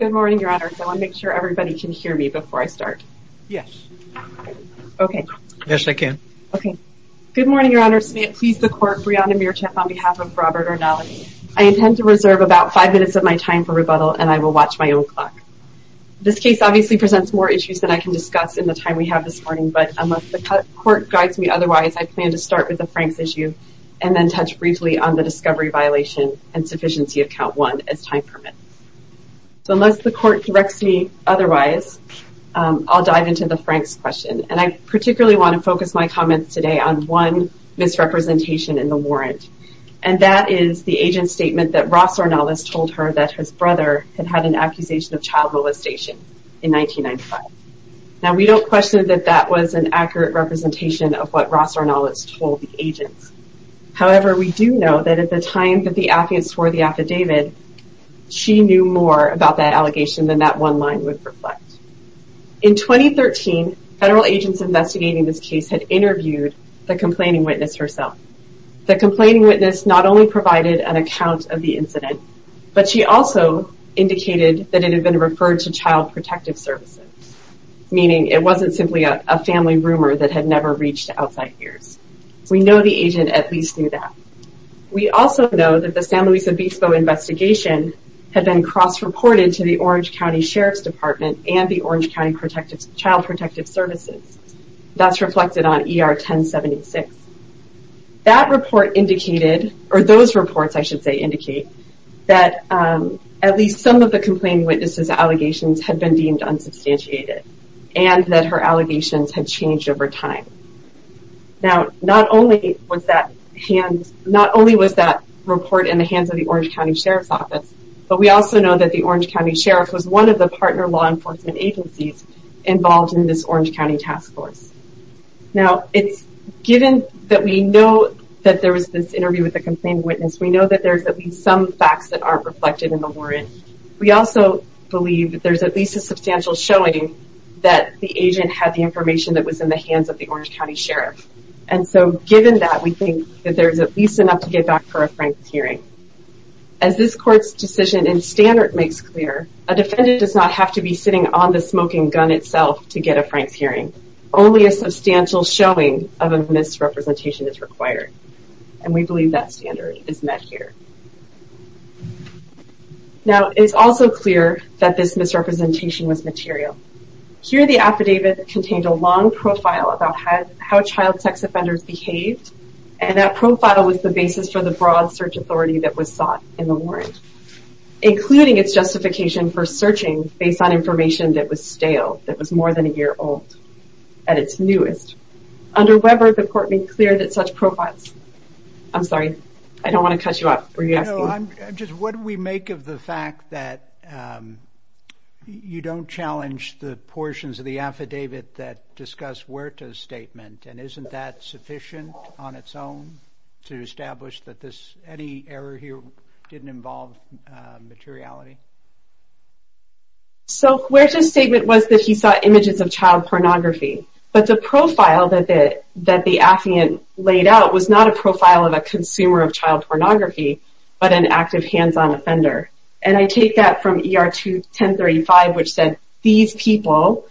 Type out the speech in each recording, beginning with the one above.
Good morning, your honors. I want to make sure everybody can hear me before I start. Yes. Okay. Yes, I can. Okay. Good morning, your honors. May it please the court, Brianna Mearchant on behalf of Robert Ornelas. I intend to reserve about five minutes of my time for rebuttal, and I will watch my own clock. This case obviously presents more issues than I can discuss in the time we have this morning, but unless the court guides me otherwise, I plan to start with the Franks issue and then touch briefly on the discovery violation and sufficiency of count one as time permits. So unless the court directs me otherwise, I'll dive into the Franks question, and I particularly want to focus my comments today on one misrepresentation in the warrant, and that is the agent's statement that Ross Ornelas told her that his brother had had an accusation of child molestation in 1995. Now, we don't question that that was an accurate representation of what Ross Ornelas told the agents. However, we do know that at the time that the affidavit swore the affidavit, she knew more about that allegation than that one line would reflect. In 2013, federal agents investigating this case had interviewed the complaining witness herself. The complaining witness not only provided an account of the incident, but she also indicated that it had been referred to Child Protective Services, meaning it wasn't simply a family rumor that had never reached outside ears. We know the agent at least knew that. We also know that the San Luis Obispo investigation had been cross-reported to the Orange County Sheriff's Department and the Orange County Child Protective Services. That's reflected on ER 1076. That report indicated, or those reports I should say indicate, that at least some of the complaining witness's allegations had been deemed unsubstantiated and that her allegations had changed over time. Now, not only was that report in the hands of the Orange County Sheriff's Office, but we also know that the Orange County Sheriff was one of the partner law enforcement agencies involved in this Orange County Task Force. Now, it's given that we know that there was this interview with the complaining witness, we know that there's at least some facts that aren't reflected in the warrant. We also believe that there's at least a substantial showing that the agent had the information that was in the hands of the Orange County Sheriff. And so, given that, we think that there's at least enough to get back for a Frank's hearing. As this court's decision in Standard makes clear, a defendant does not have to be sitting on the smoking gun itself to get a Frank's hearing. Only a substantial showing of a misrepresentation is required. And we believe that standard is met here. Now, it's also clear that this misrepresentation was material. Here, the affidavit contained a long profile about how child sex offenders behaved, and that profile was the basis for the broad search authority that was sought in the warrant, that was more than a year old, at its newest. Under Weber, the court made clear that such profiles... I'm sorry, I don't want to cut you off. Were you asking? No, I'm just, what do we make of the fact that you don't challenge the portions of the affidavit that discuss Huerta's statement, and isn't that sufficient on its own to establish that any error here didn't involve materiality? So, Huerta's statement was that he saw images of child pornography, but the profile that the affiant laid out was not a profile of a consumer of child pornography, but an active hands-on offender. And I take that from ER 21035, which said, these people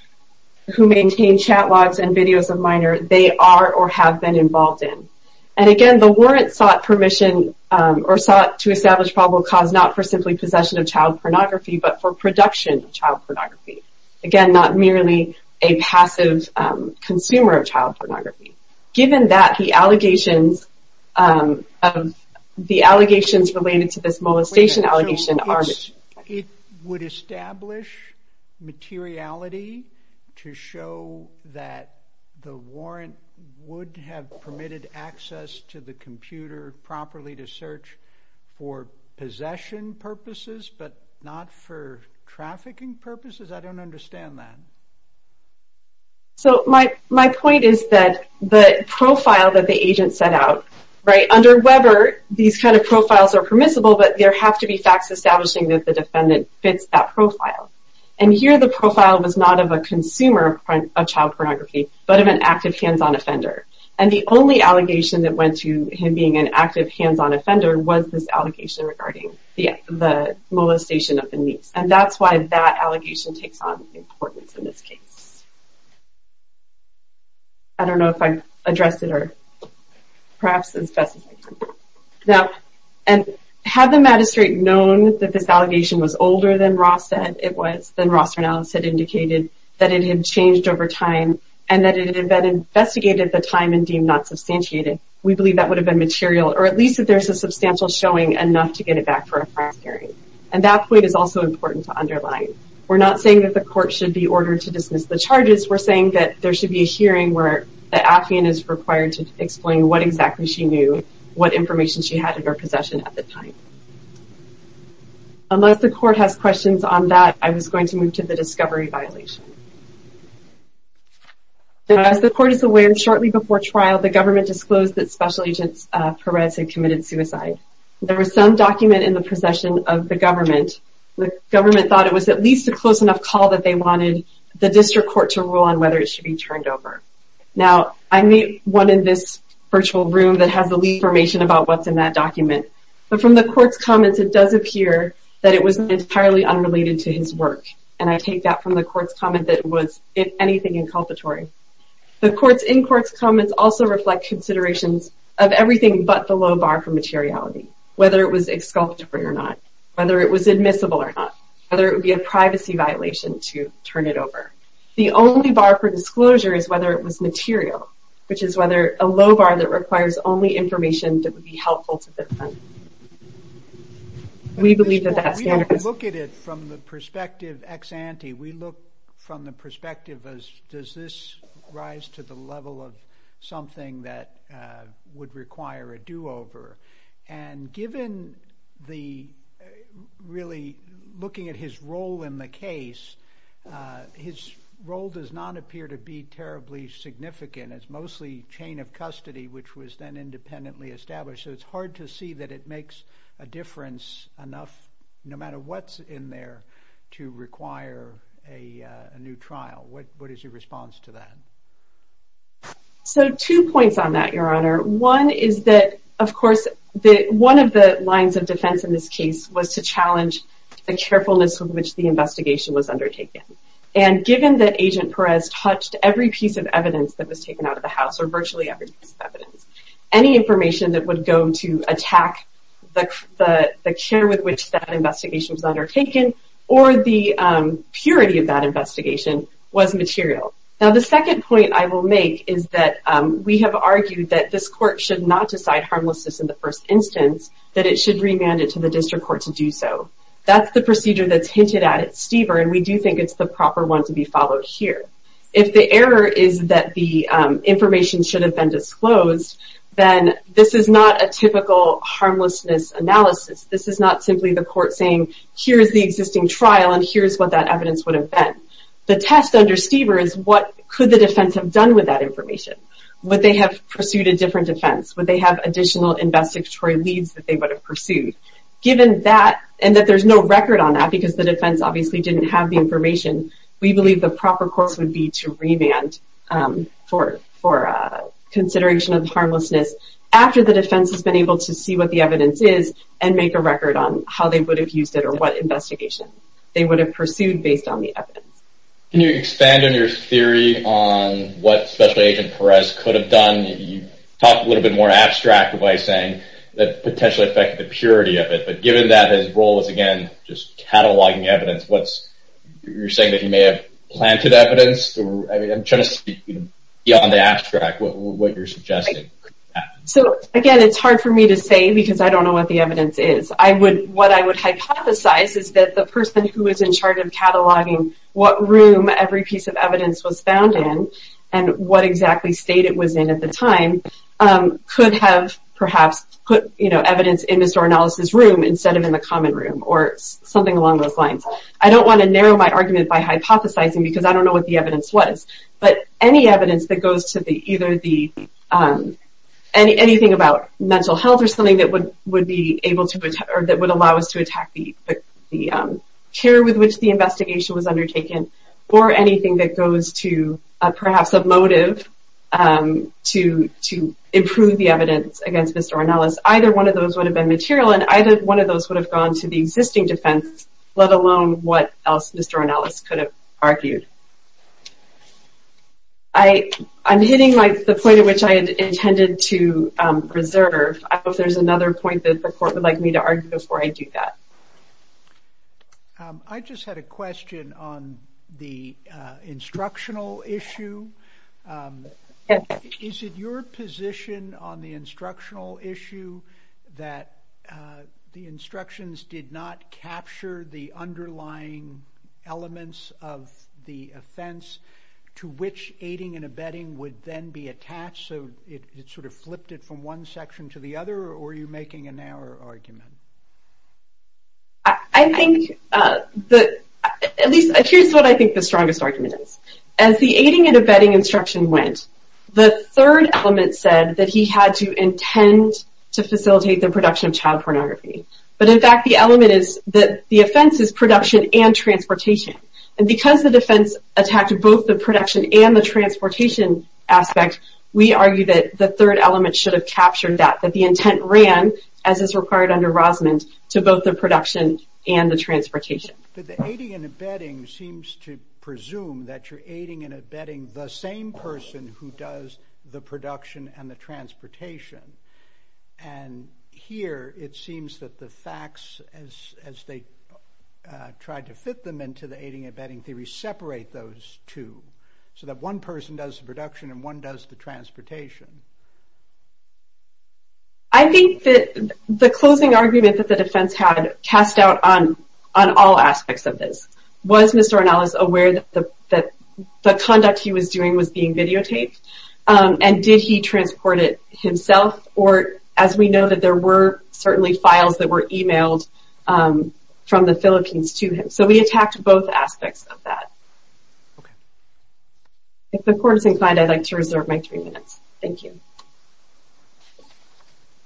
who maintain chat logs and videos of minors, they are or have been involved in. And again, the warrant sought permission, or sought to establish probable cause not for simply possession of child pornography, but for production of child pornography. Again, not merely a passive consumer of child pornography. Given that, the allegations related to this molestation allegation are... It would establish materiality to show that the warrant would have permitted access to the computer properly to search for possession purposes, but not for trafficking purposes? I don't understand that. So, my point is that the profile that the agent set out, right? Under Weber, these kind of profiles are permissible, but there have to be facts establishing that the defendant fits that profile. And here, the profile was not of a consumer of child pornography, but of an active hands-on offender. And the only allegation that went to him being an active hands-on offender was this allegation regarding the molestation of the niece. And that's why that allegation takes on importance in this case. I don't know if I addressed it, or perhaps as best as I can. Now, had the magistrate known that this allegation was older than Ross said it was, than Ross and Alice had indicated, that it had changed over time, and that it had been investigated at the time and deemed not substantiated, we believe that would have been material, or at least that there's a substantial showing enough to get it back for a prior hearing. And that point is also important to underline. We're not saying that the court should be ordered to dismiss the charges. We're saying that there should be a hearing where the affiant is required to explain what exactly she knew, what information she had of her possession at the time. Unless the court has questions on that, I was going to move to the discovery violation. As the court is aware, shortly before trial, the government disclosed that Special Agent Perez had committed suicide. There was some document in the possession of the government. The government thought it was at least a close enough call that they wanted the district court to rule on whether it should be turned over. Now, I meet one in this virtual room that has the lead information about what's in that document. But from the court's comments, it does appear that it was entirely unrelated to his work. And I take that from the court's comment that it was, if anything, inculpatory. The court's in-court comments also reflect considerations of everything but the low bar for materiality, whether it was exculpatory or not, whether it was admissible or not, whether it would be a privacy violation to turn it over. The only bar for disclosure is whether it was material, which is whether a low bar that requires only information that would be helpful to defend. We believe that that standard is... We don't look at it from the perspective ex ante. We look from the perspective of, does this rise to the level of something that would require a do-over? And given the, really, looking at his role in the case, his role does not appear to be terribly significant. It's mostly chain of custody, which was then independently established. So it's hard to see that it makes a difference enough, no matter what's in there, to require a new trial. What is your response to that? So, two points on that, Your Honor. One is that, of course, one of the lines of defense in this case was to challenge the carefulness with which the investigation was undertaken. And given that Agent Perez touched every piece of evidence that was taken out of the house, or virtually every piece of evidence, any information that would go to attack the care with which that investigation was undertaken, or the purity of that investigation, was material. Now, the second point I will make is that we have argued that this court should not decide harmlessness in the first instance, that it should remand it to the district court to do so. That's the procedure that's hinted at at Stever, and we do think it's the proper one to be followed here. If the error is that the information should have been disclosed, then this is not a typical harmlessness analysis. This is not simply the court saying, here is the existing trial, and here is what that evidence would have been. The test under Stever is, what could the defense have done with that information? Would they have pursued a different defense? Would they have additional investigatory leads that they would have pursued? Given that, and that there's no record on that, because the defense obviously didn't have the information, we believe the proper course would be to remand for consideration of harmlessness after the defense has been able to see what the evidence is and make a record on how they would have used it or what investigation they would have pursued based on the evidence. Can you expand on your theory on what Special Agent Perez could have done? You talk a little bit more abstract by saying that it potentially affected the purity of it, but given that his role is, again, just cataloging evidence, you're saying that he may have planted evidence? I'm trying to speak beyond the abstract, what you're suggesting. Again, it's hard for me to say because I don't know what the evidence is. What I would hypothesize is that the person who was in charge of cataloging what room every piece of evidence was found in and what exactly state it was in at the time could have perhaps put evidence in Mr. Ornelas' room instead of in the common room or something along those lines. I don't want to narrow my argument by hypothesizing because I don't know what the evidence was, but any evidence that goes to either anything about mental health or something that would allow us to attack the care with which the investigation was undertaken or anything that goes to perhaps a motive to improve the evidence against Mr. Ornelas, either one of those would have been material and either one of those would have gone to the existing defense, let alone what else Mr. Ornelas could have argued. I'm hitting the point at which I intended to reserve. I hope there's another point that the court would like me to argue before I do that. I just had a question on the instructional issue. Is it your position on the instructional issue that the instructions did not capture the underlying elements of the offense to which aiding and abetting would then be attached so it sort of flipped it from one section to the other or are you making a narrow argument? Here's what I think the strongest argument is. As the aiding and abetting instruction went, the third element said that he had to intend to facilitate the production of child pornography. But in fact the element is that the offense is production and transportation. And because the defense attacked both the production and the transportation aspect, we argue that the third element should have captured that, that the intent ran, as is required under Rosamond, to both the production and the transportation. But the aiding and abetting seems to presume that you're aiding and abetting the same person who does the production and the transportation. And here it seems that the facts, as they tried to fit them into the aiding and abetting theory, separate those two. So that one person does the production and one does the transportation. I think that the closing argument that the defense had cast doubt on all aspects of this. Was Mr. Ornelas aware that the conduct he was doing was being videotaped? And did he transport it himself? Or, as we know, that there were certainly files that were emailed from the Philippines to him. So we attacked both aspects of that. If the court is inclined, I'd like to reserve my three minutes. Thank you.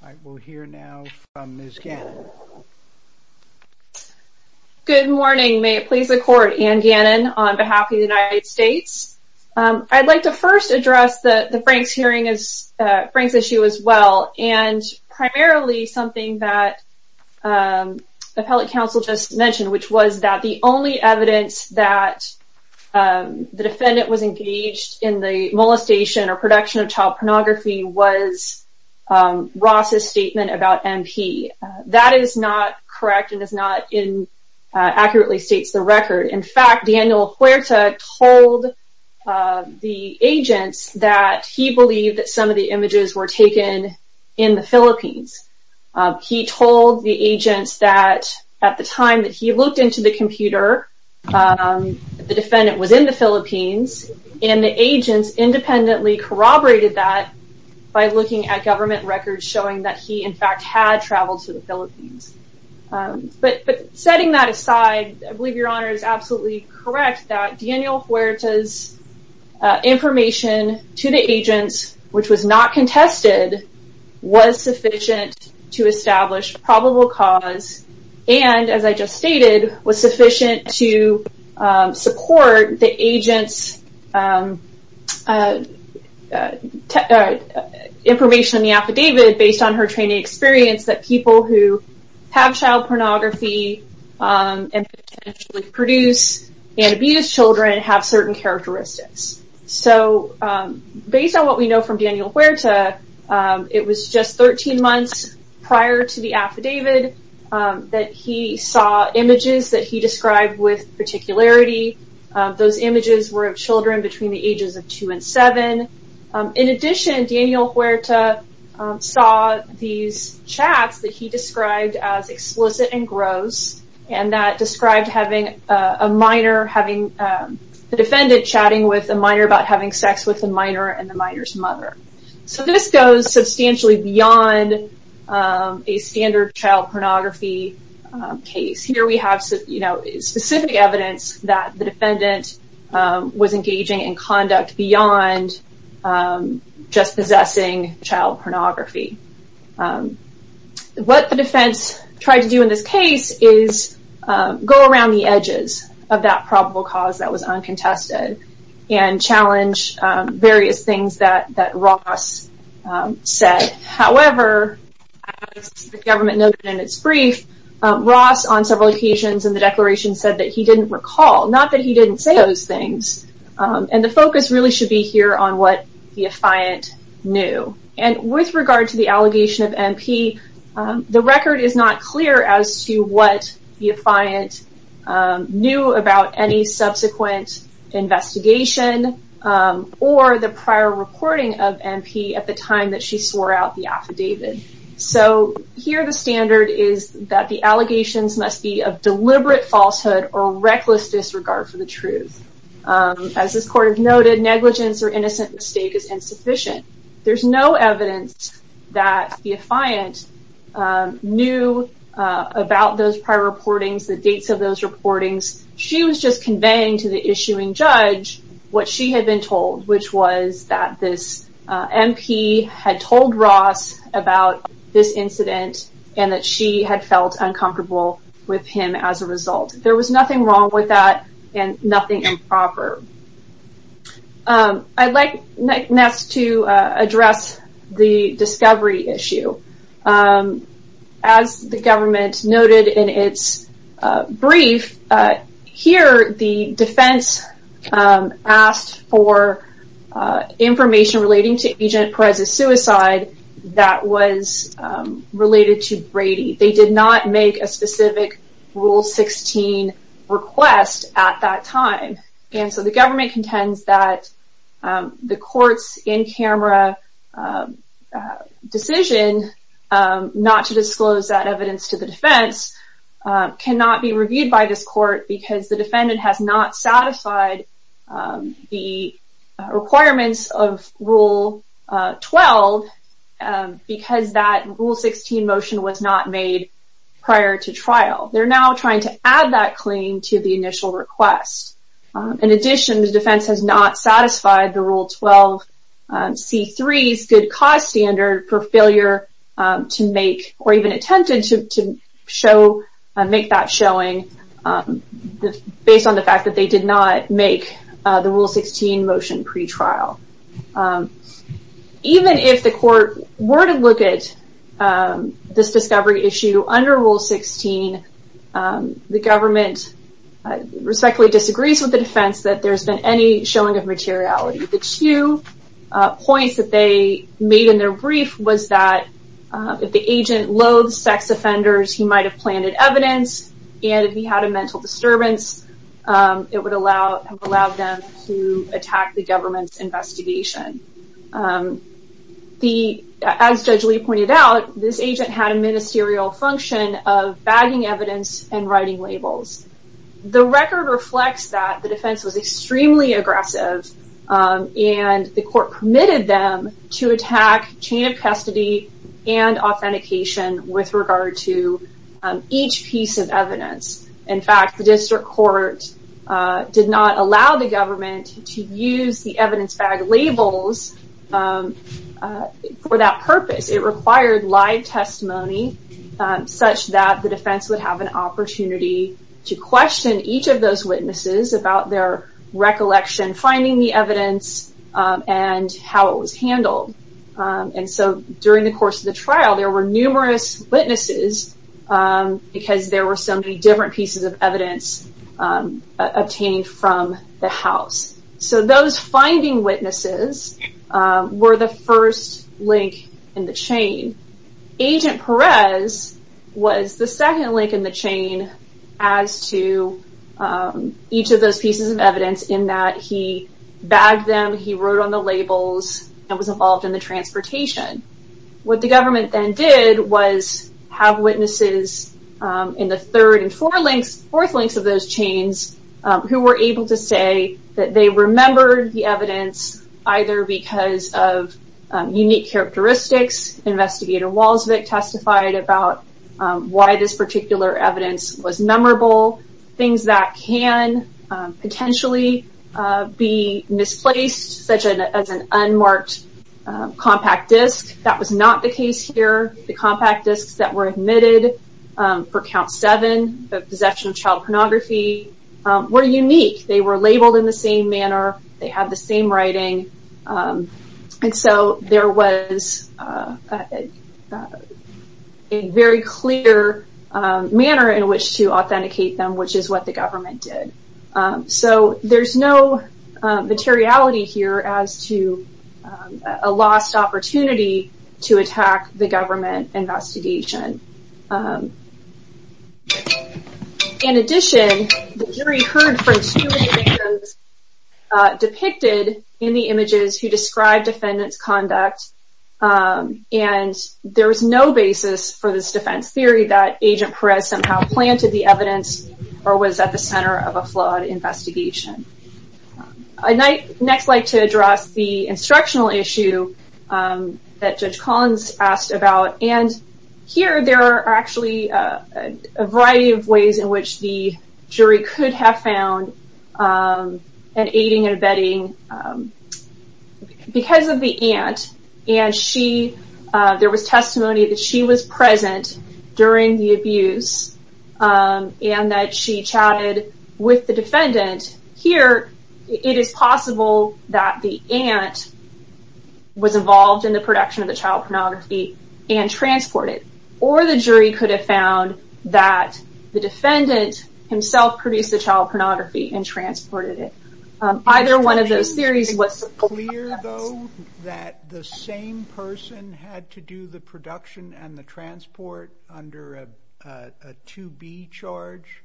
All right. We'll hear now from Ms. Gannon. Good morning. May it please the court. Anne Gannon on behalf of the United States. I'd like to first address the Franks issue as well. And primarily something that the appellate counsel just mentioned, which was that the only evidence that the defendant was engaged in the molestation or production of child pornography was Ross's statement about MP. That is not correct and does not accurately state the record. In fact, Daniel Huerta told the agents that he believed that some of the images were taken in the Philippines. He told the agents that at the time that he looked into the computer, the defendant was in the Philippines, and the agents independently corroborated that by looking at government records showing that he, in fact, had traveled to the Philippines. But setting that aside, I believe Your Honor is absolutely correct that Daniel Huerta's information to the agents, which was not contested, was sufficient to establish probable cause and, as I just stated, was sufficient to support the agent's information in the affidavit based on her training experience that people who have child pornography and potentially produce and abuse children have certain characteristics. So based on what we know from Daniel Huerta, it was just 13 months prior to the affidavit that he saw images that he described with particularity. Those images were of children between the ages of two and seven. In addition, Daniel Huerta saw these chats that he described as explicit and gross and that described having a minor, the defendant chatting with a minor about having sex with a minor and the minor's mother. So this goes substantially beyond a standard child pornography case. Here we have specific evidence that the defendant was engaging in conduct beyond just possessing child pornography. What the defense tried to do in this case is go around the edges of that probable cause that was uncontested and challenge various things that Ross said. However, as the government noted in its brief, Ross on several occasions in the declaration said that he didn't recall, not that he didn't say those things. And the focus really should be here on what the affiant knew. And with regard to the allegation of MP, the record is not clear as to what the affiant knew about any subsequent investigation or the prior reporting of MP at the time that she swore out the affidavit. So here the standard is that the allegations must be of deliberate falsehood or reckless disregard for the truth. As this court has noted, negligence or innocent mistake is insufficient. There's no evidence that the affiant knew about those prior reportings, the dates of those reportings. She was just conveying to the issuing judge what she had been told, which was that this MP had told Ross about this incident and that she had felt uncomfortable with him as a result. There was nothing wrong with that and nothing improper. I'd like next to address the discovery issue. As the government noted in its brief, here the defense asked for information relating to Agent Perez's suicide that was related to Brady. They did not make a specific Rule 16 request at that time. And so the government contends that the court's in-camera decision not to disclose that evidence to the defense cannot be reviewed by this court because the defendant has not satisfied the requirements of Rule 12 because that Rule 16 motion was not made prior to trial. They're now trying to add that claim to the initial request. In addition, the defense has not satisfied the Rule 12C3's good cause standard for failure to make or even attempted to make that showing based on the fact that they did not make the Rule 16 motion pre-trial. Even if the court were to look at this discovery issue under Rule 16, the government respectfully disagrees with the defense that there's been any showing of materiality. The two points that they made in their brief was that if the agent loathes sex offenders, he might have planted evidence, and if he had a mental disturbance, it would have allowed them to attack the government's investigation. As Judge Lee pointed out, this agent had a ministerial function of bagging evidence and writing labels. The record reflects that the defense was extremely aggressive and the court permitted them to attack chain of custody and authentication with regard to each piece of evidence. In fact, the district court did not allow the government to use the evidence bag labels for that purpose. It required live testimony such that the defense would have an opportunity to question each of those witnesses about their recollection, finding the evidence, and how it was handled. During the course of the trial, there were numerous witnesses because there were so many different pieces of evidence obtained from the house. So those finding witnesses were the first link in the chain. Agent Perez was the second link in the chain as to each of those pieces of evidence in that he bagged them, he wrote on the labels, and was involved in the transportation. What the government then did was have witnesses in the third and fourth links of those chains who were able to say that they remembered the evidence either because of unique characteristics. Investigator Walsvik testified about why this particular evidence was memorable, things that can potentially be misplaced such as an unmarked compact disc. That was not the case here. The compact discs that were admitted for count seven, possession of child pornography, were unique. They were labeled in the same manner. They had the same writing. So there was a very clear manner in which to authenticate them, which is what the government did. So there's no materiality here as to a lost opportunity to attack the government investigation. In addition, the jury heard from two witnesses depicted in the images who described defendant's conduct, and there was no basis for this defense theory that Agent Perez somehow planted the evidence or was at the center of a flawed investigation. I'd next like to address the instructional issue that Judge Collins asked about, and here there are actually a variety of ways in which the jury could have found an aiding and abetting because of the aunt, and there was testimony that she was present during the abuse and that she chatted with the defendant. Here it is possible that the aunt was involved in the production of the child pornography and transported it, or the jury could have found that the defendant himself produced the child pornography and transported it. Either one of those theories was... Is it clear, though, that the same person had to do the production and the transport under a 2B charge?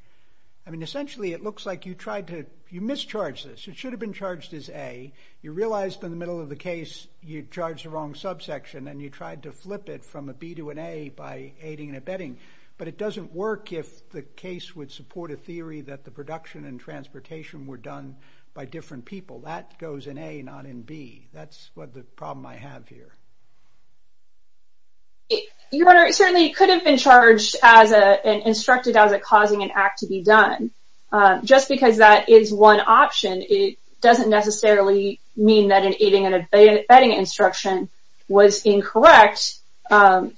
I mean, essentially it looks like you mischarged this. It should have been charged as A. You realized in the middle of the case you charged the wrong subsection and you tried to flip it from a B to an A by aiding and abetting, but it doesn't work if the case would support a theory that the production and transportation were done by different people. That goes in A, not in B. That's the problem I have here. Your Honor, it certainly could have been charged and instructed as causing an act to be done. Just because that is one option, it doesn't necessarily mean that an aiding and abetting instruction was incorrect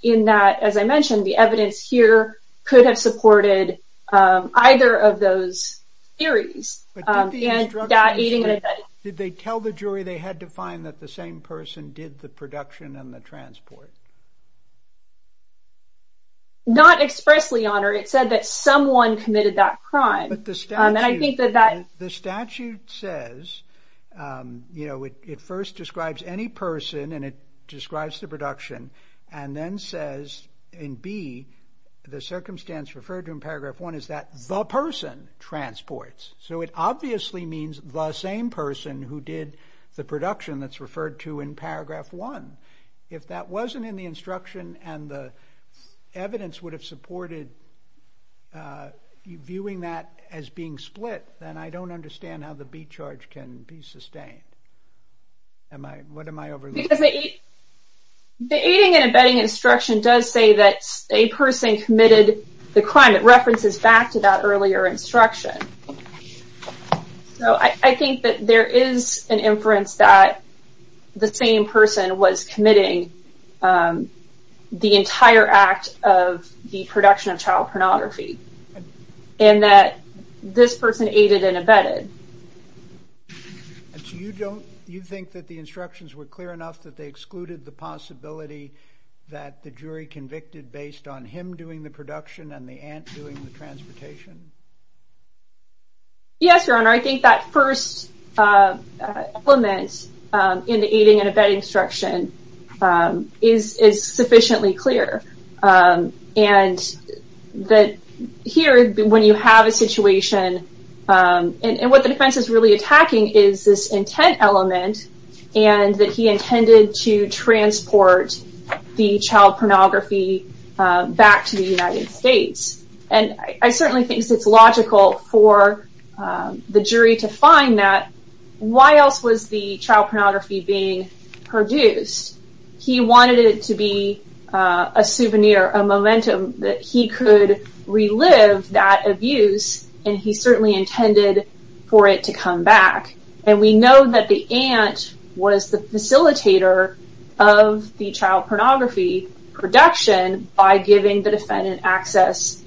in that, as I mentioned, the evidence here could have supported either of those theories. Did they tell the jury they had to find that the same person did the production and the transport? Not expressly, Your Honor. It said that someone committed that crime. The statute says, you know, it first describes any person and it describes the production and then says in B, the circumstance referred to in paragraph 1 is that the person transports. So it obviously means the same person who did the production that's referred to in paragraph 1. If that wasn't in the instruction and the evidence would have supported viewing that as being split, then I don't understand how the B charge can be sustained. What am I overlooking? The aiding and abetting instruction does say that a person committed the crime. And it references back to that earlier instruction. So I think that there is an inference that the same person was committing the entire act of the production of child pornography and that this person aided and abetted. You think that the instructions were clear enough that they excluded the possibility that the jury convicted based on him doing the production and the aunt doing the transportation? Yes, Your Honor. I think that first element in the aiding and abetting instruction is sufficiently clear. And that here, when you have a situation, and what the defense is really attacking is this intent element and that he intended to transport the child pornography back to the United States. And I certainly think it's logical for the jury to find that. Why else was the child pornography being produced? He wanted it to be a souvenir, a momentum that he could relive that abuse, and he certainly intended for it to come back. And we know that the aunt was the facilitator of the child pornography production by giving the defendant access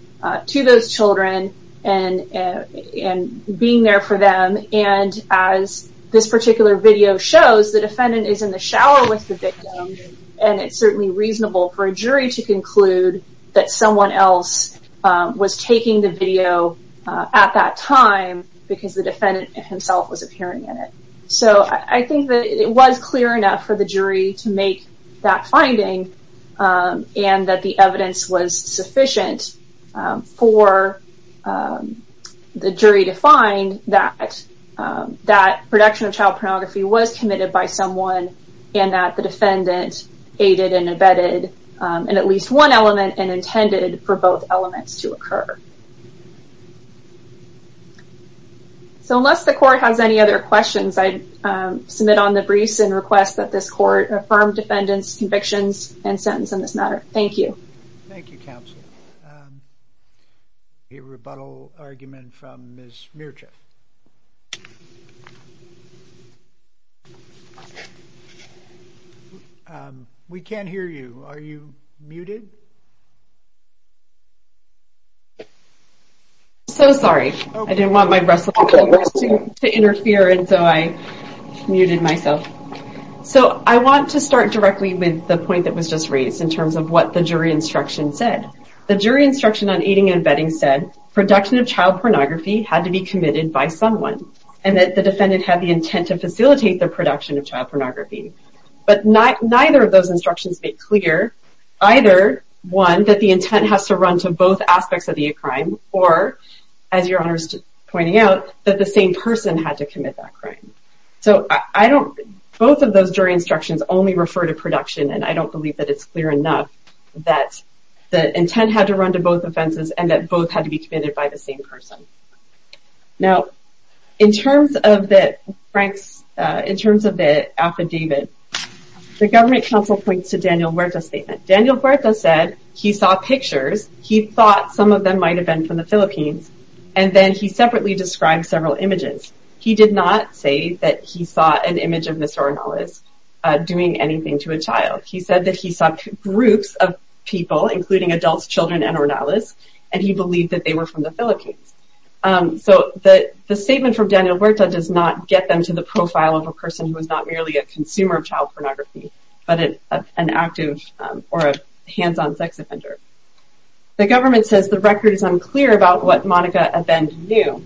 to those children and being there for them. And as this particular video shows, the defendant is in the shower with the victim, and it's certainly reasonable for a jury to conclude that someone else was taking the video at that time because the defendant himself was appearing in it. So I think that it was clear enough for the jury to make that finding and that the evidence was sufficient for the jury to find that that production of child pornography was committed by someone and that the defendant aided and abetted in at least one element and intended for both elements to occur. So unless the court has any other questions, I submit on the briefs and request that this court affirm defendant's convictions and sentence in this matter. Thank you. Thank you, counsel. A rebuttal argument from Ms. Mierczak. We can't hear you. Are you muted? So sorry. I didn't want my wrestling to interfere, and so I muted myself. So I want to start directly with the point that was just raised in terms of what the jury instruction said. The jury instruction on aiding and abetting said production of child pornography had to be committed by someone and that the defendant had the intent to facilitate the production of child pornography. But neither of those instructions make clear either, one, that the intent has to run to both aspects of the crime or, as Your Honor is pointing out, that the same person had to commit that crime. So both of those jury instructions only refer to production, and I don't believe that it's clear enough that the intent had to run to both offenses and that both had to be committed by the same person. Now, in terms of the affidavit, the government counsel points to Daniel Huerta's statement. Daniel Huerta said he saw pictures. He thought some of them might have been from the Philippines, and then he separately described several images. He did not say that he saw an image of Ms. Ornalas doing anything to a child. He said that he saw groups of people, including adults, children, and Ornalas, and he believed that they were from the Philippines. So the statement from Daniel Huerta does not get them to the profile of a person who is not merely a consumer of child pornography, but an active or a hands-on sex offender. The government says the record is unclear about what Monica Abend knew.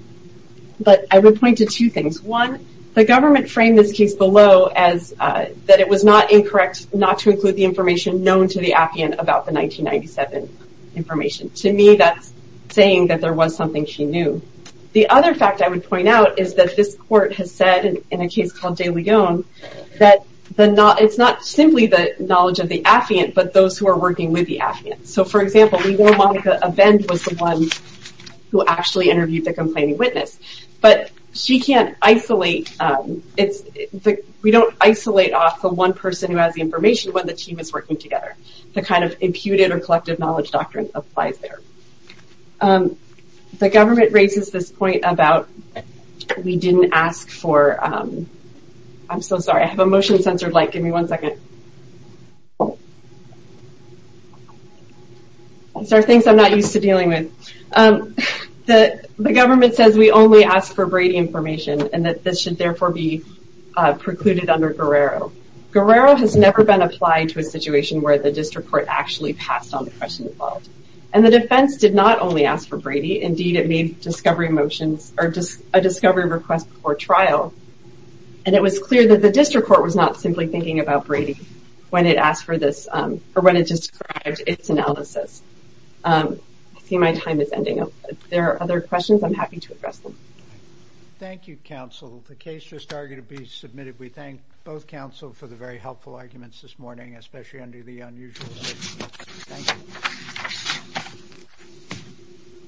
But I would point to two things. One, the government framed this case below as that it was not incorrect not to include the information known to the affiant about the 1997 information. To me, that's saying that there was something she knew. The other fact I would point out is that this court has said, in a case called De Leon, that it's not simply the knowledge of the affiant, but those who are working with the affiant. So, for example, we know Monica Abend was the one who actually interviewed the complaining witness. But she can't isolate... We don't isolate off the one person who has the information when the team is working together. The kind of imputed or collective knowledge doctrine applies there. The government raises this point about we didn't ask for... I'm so sorry. I have a motion censored light. Give me one second. These are things I'm not used to dealing with. The government says we only ask for Brady information, and that this should therefore be precluded under Guerrero. Guerrero has never been applied to a situation where the district court actually passed on the question involved. And the defense did not only ask for Brady. Indeed, it made a discovery request before trial. And it was clear that the district court was not simply thinking about Brady when it asked for this, or when it described its analysis. I see my time is ending. If there are other questions, I'm happy to address them. Thank you, counsel. The case just arguably submitted. We thank both counsel for the very helpful arguments this morning, especially under the unusual circumstances. Thank you.